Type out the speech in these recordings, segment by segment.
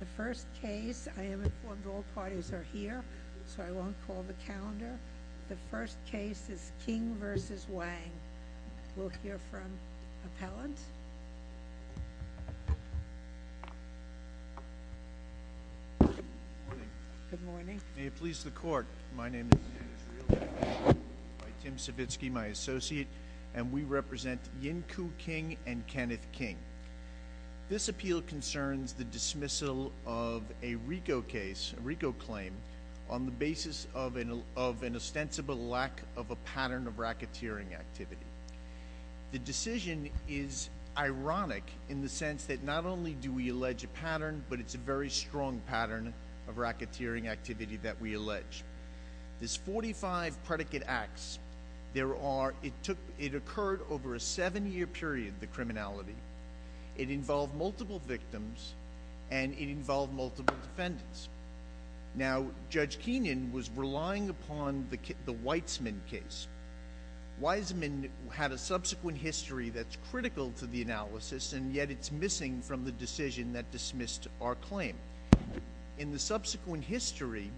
The first case, I am informed all parties are here, so I won't call the calendar. The first case is King v. Wang. We'll hear from appellant. Good morning. May it please the court, my name is Tim Savitsky, my associate, and we are here to discuss the dismissal of a RICO case, a RICO claim, on the basis of an ostensible lack of a pattern of racketeering activity. The decision is ironic in the sense that not only do we allege a pattern, but it's a very strong pattern of racketeering activity that we allege. This 45 predicate acts, it occurred over a seven-year period, the criminality. It involved multiple victims, and it involved multiple defendants. Now, Judge Keenan was relying upon the Weizman case. Weizman had a subsequent history that's critical to the analysis, and yet it's missing from the decision that dismissed our claim. In the subsequent history,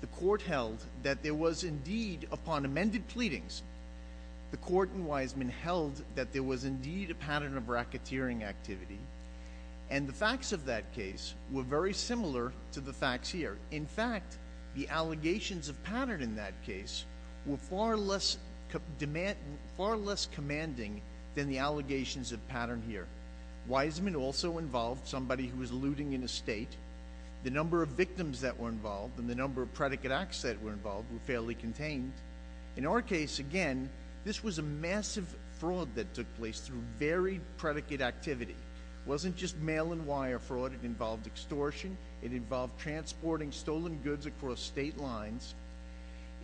the court held that there was indeed, upon amended pleadings, the court in Weizman held that there was indeed a pattern of racketeering activity, and the facts of that case were very similar to the facts here. In fact, the allegations of pattern in that case were far less commanding than the allegations of pattern here. Weizman also involved somebody who was looting an estate. The number of victims that were involved and the number of predicate acts that were involved were contained. In our case, again, this was a massive fraud that took place through very predicate activity. It wasn't just mail and wire fraud. It involved extortion. It involved transporting stolen goods across state lines.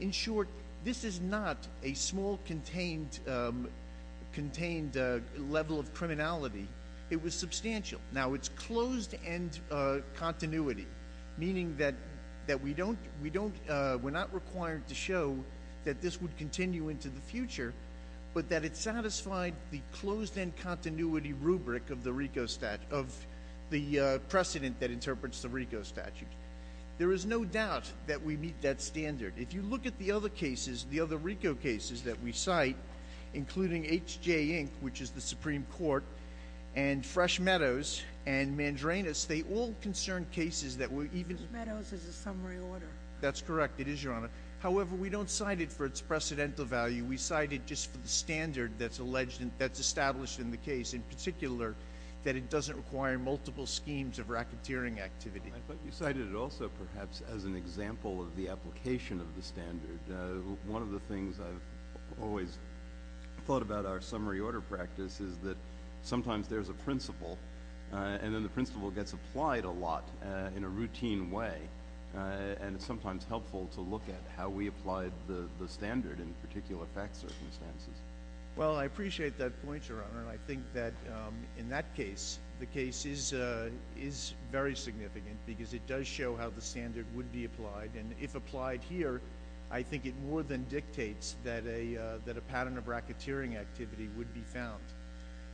In short, this is not a small contained level of criminality. It was substantial. Now, it's closed-end continuity, meaning that we're not required to show that this would continue into the future, but that it satisfied the closed-end continuity rubric of the precedent that interprets the RICO statute. There is no doubt that we meet that standard. If you look at the other cases, the other RICO cases that we cite, including H.J. Inc., which is the Supreme Court, and Fresh Meadows, and Mandranas, they all concern cases that were even... Fresh Meadows is a summary order. That's correct. It is, Your Honor. However, we don't cite it for its precedental value. We cite it just for the standard that's established in the case, in particular, that it doesn't require multiple schemes of racketeering activity. I thought you cited it also, perhaps, as an example of the application of the standard. One of the things I've always thought about our summary order practice is that sometimes there's a principle, and then the principle gets applied a lot in a routine way, and it's sometimes helpful to look at how we applied the standard in particular fact circumstances. I appreciate that point, Your Honor. I think that in that case, the case is very significant because it does show how the standard would be applied. If applied here, I think it more than dictates that a pattern of racketeering activity would be found.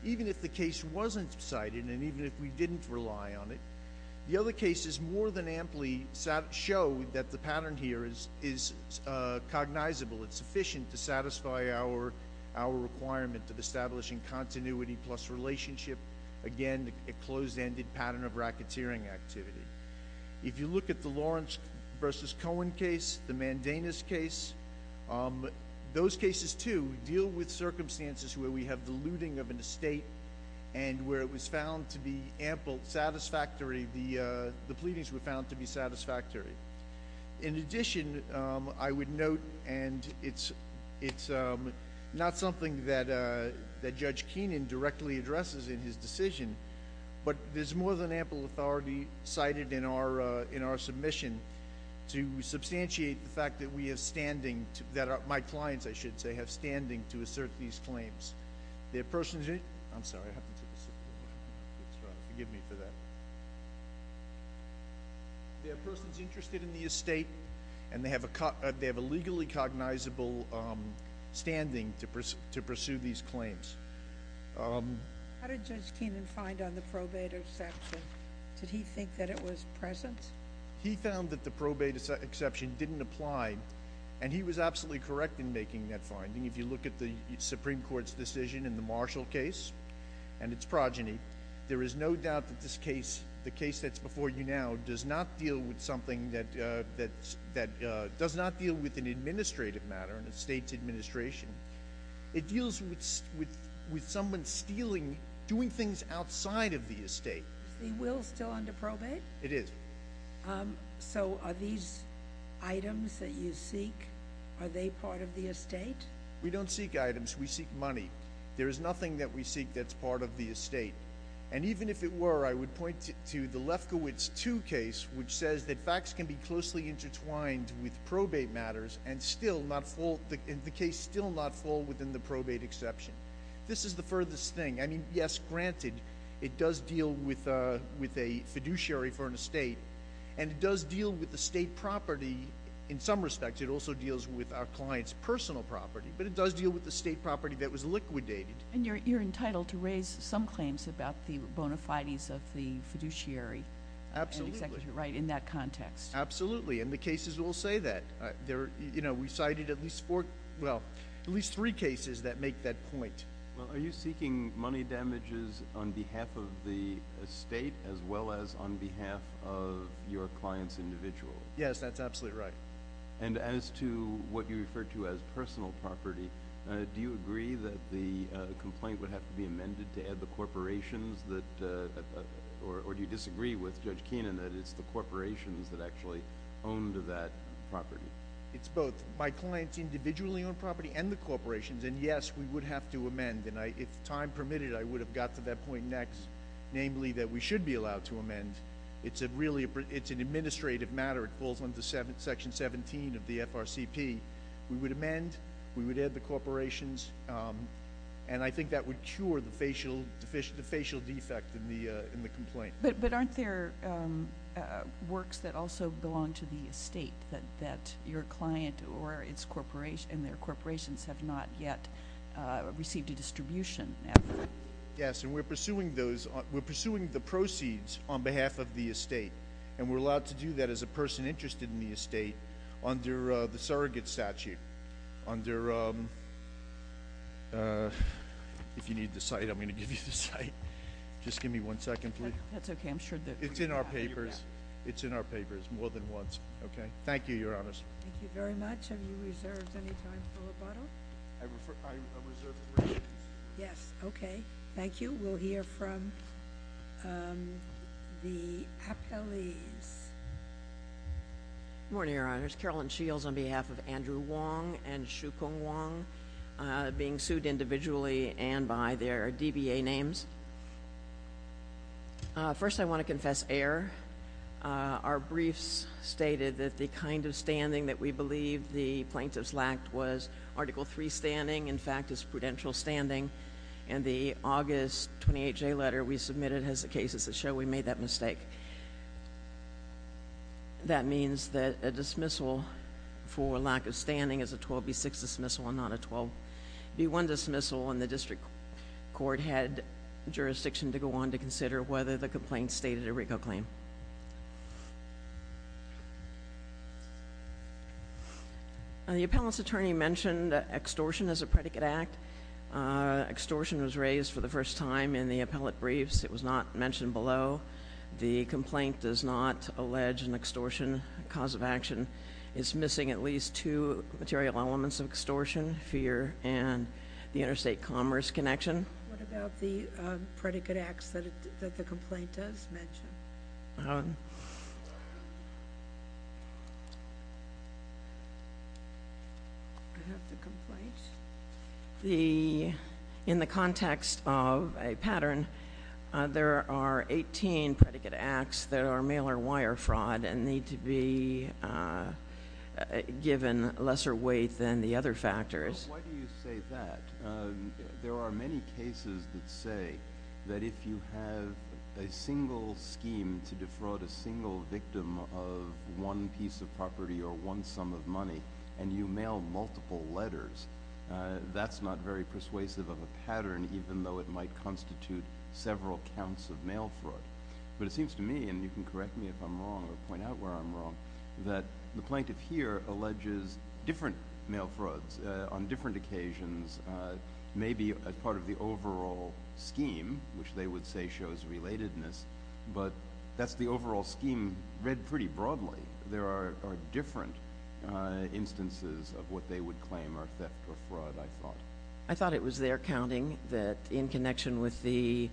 Even if the case wasn't cited, and even if we didn't rely on it, the other cases more than amply show that the pattern here is cognizable. It's sufficient to satisfy our requirement of establishing continuity plus relationship. Again, a closed-ended pattern of racketeering activity. If you look at the Lawrence v. Cohen case, the Mandanus case, those cases, too, deal with circumstances where we have the looting of an estate and where it was found to be ample, satisfactory, the pleadings were found to be satisfactory. In addition, I would note, and it's not something that Judge Keenan directly addresses in his decision, but there's more than ample authority cited in our submission to substantiate the fact that we have standing, that my clients, I should say, have standing to assert these claims. Their persons, I'm sorry, I have to take a sip of water. Forgive me for that. Their persons interested in the estate and they have a legally cognizable standing to pursue these claims. How did Judge Keenan find on the probate exception? Did he think that it was present? He found that the probate exception didn't apply and he was absolutely correct in making that finding. If you look at the Supreme Court's decision in the Marshall case and its progeny, there is no doubt that this case, the case that's before you now, does not deal with something that does not deal with an administrative matter, an estate's administration. It deals with someone stealing, doing things outside of the estate. Is the will still under probate? It is. So are these items that you seek, are they part of the estate? We don't seek items. We seek money. There is nothing that we seek that's part of the estate. And even if it were, I would point to the Lefkowitz 2 case, which says that facts can be closely intertwined with probate matters and still not fall, the case still not fall within the probate exception. This is the furthest thing. I mean, yes, granted, it does deal with a fiduciary for an estate and it does deal with the state property in some respects. It also deals with our client's personal property, but it does deal with the state property that was liquidated. And you're entitled to raise some claims about the bona fides of the fiduciary. Absolutely. Right, in that context. Absolutely. And the cases will say that. We cited at least four, well, at least three cases that make that point. Well, are you seeking money damages on behalf of the estate as well as on behalf of your client's individual? Yes, that's absolutely right. And as to what you refer to as personal property, do you agree that the complaint would have to be amended to add the corporations that, or do you disagree with Judge Keenan that it's the corporations that actually owned that property? It's both. My clients individually own property and the corporations. And yes, we would have to amend. And if time permitted, I would have got to that point next, namely that we should be allowed to amend. It's an administrative matter. It falls under Section 17 of the FRCP. We would amend. We would add the corporations. And I think that would cure the facial defect in the complaint. But aren't there works that also belong to the estate that your client and their corporations have not yet received a distribution effort? Yes. And we're pursuing those. We're pursuing the proceeds on behalf of the estate. And we're allowed to do that as a person interested in the estate under the surrogate statute, under if you need the site, I'm going to give you the site. Just give me one second, please. That's okay. I'm sure that It's in our papers. It's in our papers more than once. Okay. Thank you, Your Honors. Thank you very much. Have you reserved any time for rebuttal? I reserved three minutes. Yes. Okay. Thank you. We'll hear from the appellees. Good morning, Your Honors. Carolyn Shields on behalf of Andrew Wong and Shu Kung Wong, being sued individually and by their DBA names. First, I want to confess error. Our briefs stated that the kind of standing that we believe the plaintiffs lacked was Article III standing, in fact, is prudential standing. And the August 28 J letter we submitted has the cases that show we made that mistake. That means that a dismissal for lack of standing is a 12B6 dismissal and not a 12B1 dismissal. The District Court had jurisdiction to go on to consider whether the complaint stated a RICO claim. The appellant's attorney mentioned extortion as a predicate act. Extortion was raised for the first time in the appellate briefs. It was not mentioned below. The complaint does not allege an extortion cause of action. It's missing at least two material elements of extortion, fear, and the interstate commerce connection. What about the predicate acts that the complaint does mention? I have the complaint. In the context of a pattern, there are 18 predicate acts that are mailer wire fraud and need to be given lesser weight than the other factors. Why do you say that? There are many cases that say that if you have a single scheme to defraud a single victim of one piece of property or one sum of money and you mail multiple letters, that's not very persuasive of a pattern, even though it might constitute several counts of mail fraud. But it seems to me, and you can correct me if I'm wrong or point out where I'm wrong, the plaintiff here alleges different mail frauds on different occasions, maybe as part of the overall scheme, which they would say shows relatedness, but that's the overall scheme read pretty broadly. There are different instances of what they would claim are theft or fraud, I thought. I thought it was their counting that in connection with the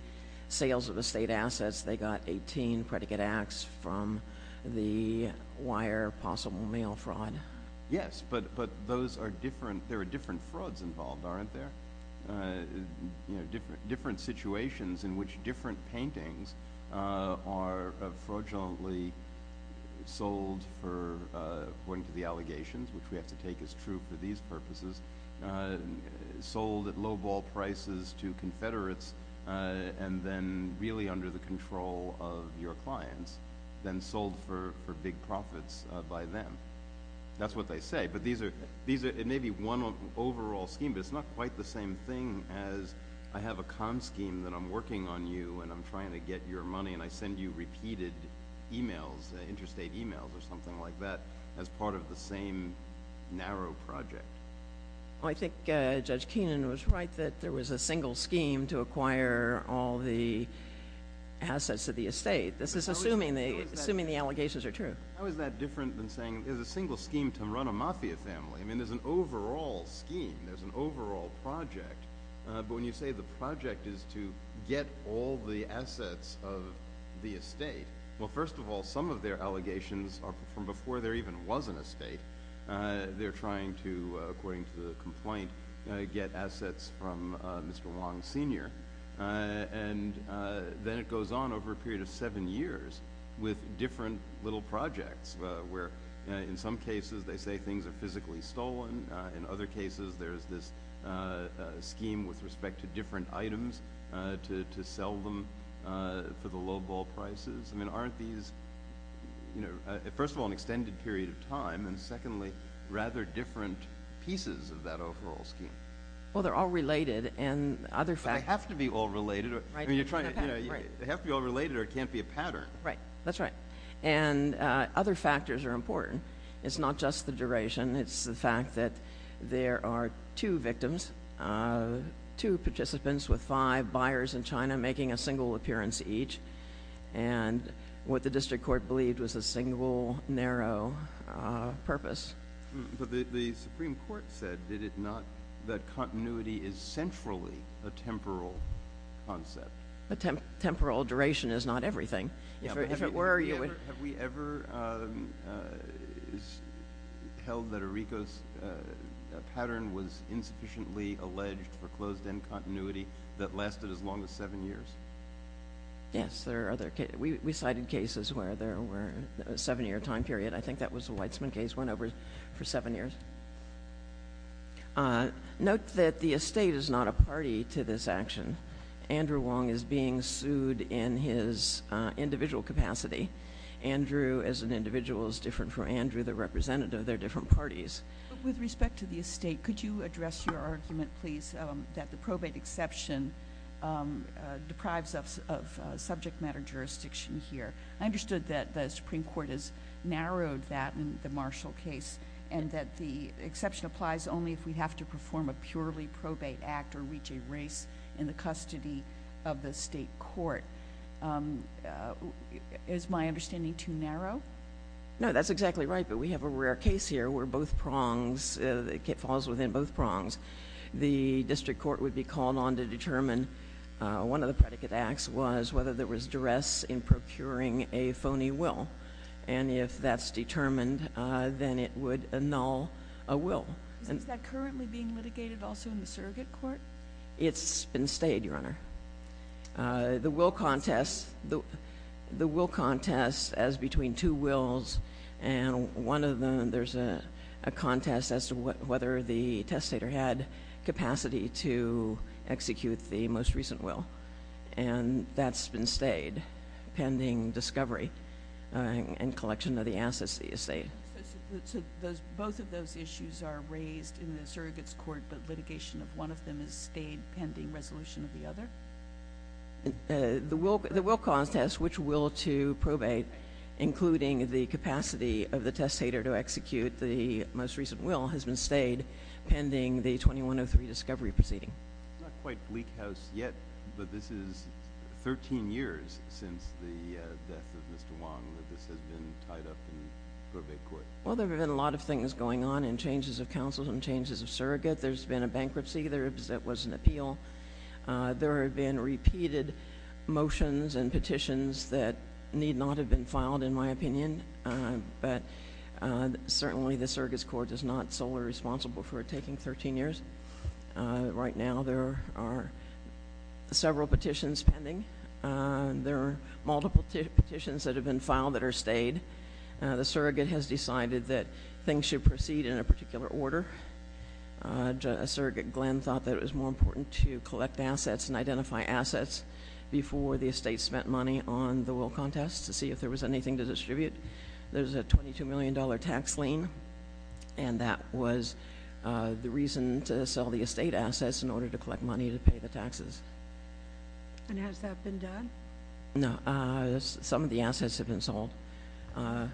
sales of estate assets, they got 18 predicate acts from the wire possible mail fraud. Yes, but there are different frauds involved, aren't there? Different situations in which different paintings are fraudulently sold for, according to the allegations, which we have to take as true for these purposes, sold at lowball prices to your clients than sold for big profits by them. That's what they say, but it may be one overall scheme, but it's not quite the same thing as I have a con scheme that I'm working on you and I'm trying to get your money and I send you repeated emails, interstate emails or something like that, as part of the same narrow project. I think Judge Keenan was right that there was a single scheme to acquire all the assets of the estate. This is assuming the allegations are true. How is that different than saying there's a single scheme to run a mafia family? I mean, there's an overall scheme. There's an overall project, but when you say the project is to get all the assets of the estate, well, first of all, some of their allegations are from before there even was an estate. They're trying to, according to the complaint, get assets from Mr. Wong Sr. Then it goes on over a period of seven years with different little projects where, in some cases, they say things are physically stolen. In other cases, there's this scheme with respect to different items to sell them for the lowball prices. I mean, aren't these, you know, first of all, an extended period of time and secondly, rather different pieces of that overall scheme? Well, they're all related and other factors. They have to be all related, right? You're trying to, you know, they have to be all related or it can't be a pattern. Right. That's right. And other factors are important. It's not just the duration. It's the fact that there are two victims, two participants with five buyers in China making a single appearance each. And what the district court believed was a single, narrow purpose. But the Supreme Court said, did it not, that continuity is centrally a temporal concept. But temporal duration is not everything. If it were, you would... Have we ever held that a Ricos pattern was insufficiently alleged for closed-end continuity that lasted as long as seven years? Yes, there are other cases. We cited cases where there were a seven-year time period. I think that was a Weitzman case, went over for seven years. Note that the estate is not a party to this action. Andrew Wong is being sued in his individual capacity. Andrew as an individual is different from Andrew the representative. They're different parties. With respect to the estate, could you address your argument, please, that the probate exception deprives us of subject matter jurisdiction here? I understood that the Supreme Court has narrowed that in the Marshall case, and that the exception applies only if we have to perform a purely probate act or reach a race in the custody of the state court. Is my understanding too narrow? No, that's exactly right. But we have a rare case here where both prongs, it falls within both prongs. The district court would be called on to determine... One of the predicate acts was whether there was duress in procuring a phony will. And if that's determined, then it would annul a will. Is that currently being litigated also in the surrogate court? It's been stayed, Your Honor. The will contest as between two wills, and one of them, there's a contest as to whether the testator had capacity to execute the most recent will. And that's been stayed, pending discovery and collection of the assets of the estate. Both of those issues are raised in the surrogate's court, but litigation of one of them has stayed pending resolution of the other? The will contest, which will to probate, including the capacity of the testator to execute the most recent will, has been stayed pending the 2103 discovery proceeding. It's not quite bleak house yet, but this is 13 years since the death of Mr. Wong that this has been tied up in probate court. Well, there have been a lot of things going on in changes of counsel and changes of surrogate. There's been a bankruptcy that was an appeal. There have been repeated motions and petitions that need not have been filed, in my opinion. But certainly the surrogate's court is not solely responsible for taking 13 years. Right now, there are several petitions pending. There are multiple petitions that have been filed that are stayed. The surrogate has decided that things should proceed in a particular order. Surrogate Glenn thought that it was more important to collect assets and identify assets before the estate spent money on the will contest to see if there was anything to distribute. There's a $22 million tax lien, and that was the reason to sell the estate assets in order to collect money to pay the taxes. And has that been done? No. Some of the assets have been sold. I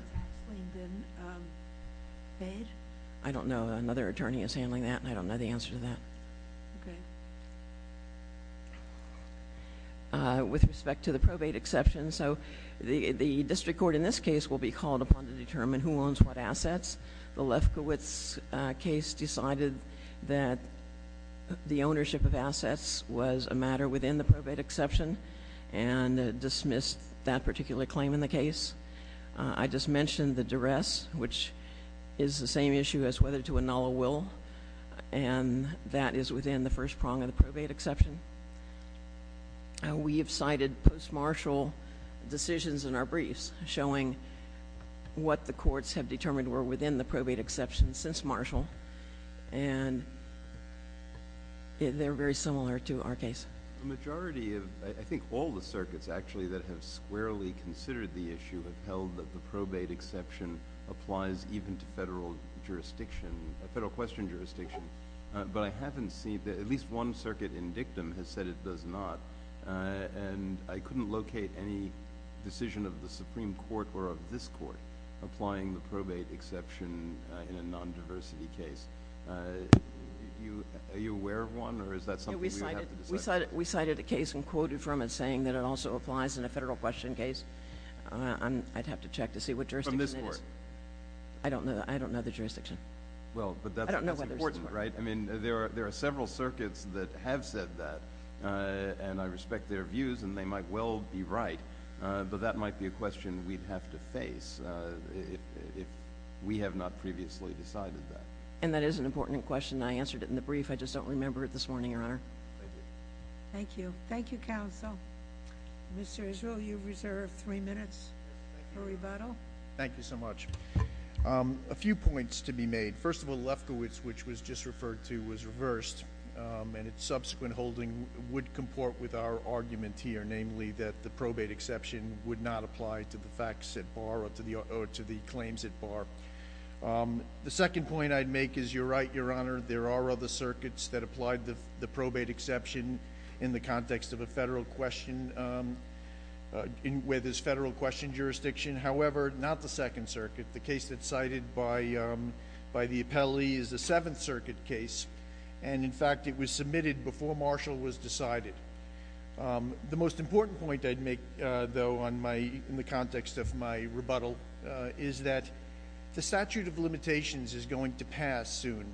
don't know. Another attorney is handling that, and I don't know the answer to that. Okay. With respect to the probate exception, so the district court in this case will be called upon to determine who owns what assets. The Lefkowitz case decided that the ownership of assets was a matter within the probate exception and dismissed that particular claim in the case. I just mentioned the duress, which is the same issue as whether to annul a will, and that is within the first prong of the probate exception. We have cited post-martial decisions in our briefs showing what the courts have determined were within the probate exception since martial, and they're very similar to our case. The majority of, I think all the circuits that have squarely considered the issue have held that the probate exception applies even to federal jurisdiction, federal question jurisdiction. But I haven't seen, at least one circuit in dictum has said it does not, and I couldn't locate any decision of the Supreme Court or of this court applying the probate exception in a nondiversity case. Are you aware of one, or is that something we would have to decide? We cited a case and quoted from it saying that it also applies in a federal question case. I'd have to check to see what jurisdiction it is. I don't know the jurisdiction. Well, but that's important, right? I mean, there are several circuits that have said that, and I respect their views, and they might well be right, but that might be a question we'd have to face if we have not previously decided that. And that is an important question. I answered it in the brief. I just don't remember it this morning, Your Honor. Thank you. Thank you. Thank you, Counsel. Mr. Israel, you've reserved three minutes for rebuttal. Thank you so much. A few points to be made. First of all, Lefkowitz, which was just referred to, was reversed, and its subsequent holding would comport with our argument here, namely that the probate exception would not apply to the facts at bar or to the claims at bar. The second point I'd make is you're right, Your Honor. There are other circuits that applied the probate exception in the context of a federal question, where there's federal question jurisdiction. However, not the Second Circuit. The case that's cited by the appellee is the Seventh Circuit case, and in fact, it was submitted before Marshall was decided. The most important point I'd make, though, in the context of my rebuttal is that the statute of limitations is going to pass soon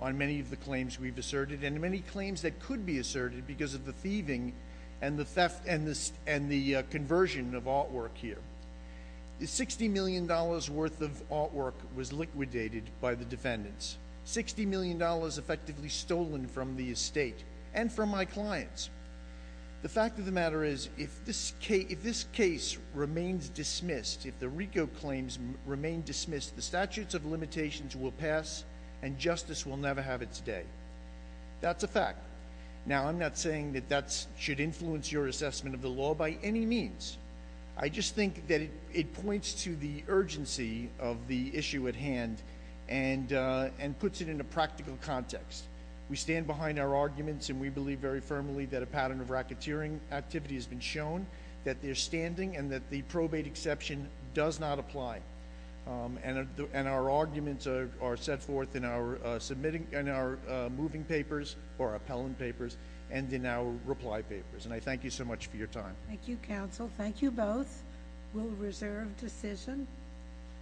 on many of the claims we've asserted and many claims that could be asserted because of the thieving and the conversion of artwork here. The $60 million worth of artwork was liquidated by the defendants, $60 million effectively stolen from the estate and from my clients. The fact of the matter is, if this case remains dismissed, if the RICO claims remain dismissed, the statutes of limitations will pass and justice will never have its day. That's a fact. Now, I'm not saying that that should influence your assessment of the law by any means. I just think that it points to the urgency of the issue at hand and puts it in a practical context. We stand behind our arguments, and we believe very firmly that a pattern of racketeering activity has been shown, that they're standing, and that the probate exception does not apply. Our arguments are set forth in our moving papers or appellant papers and in our reply papers. I thank you so much for your time. Thank you, counsel. Thank you both. We'll reserve decision.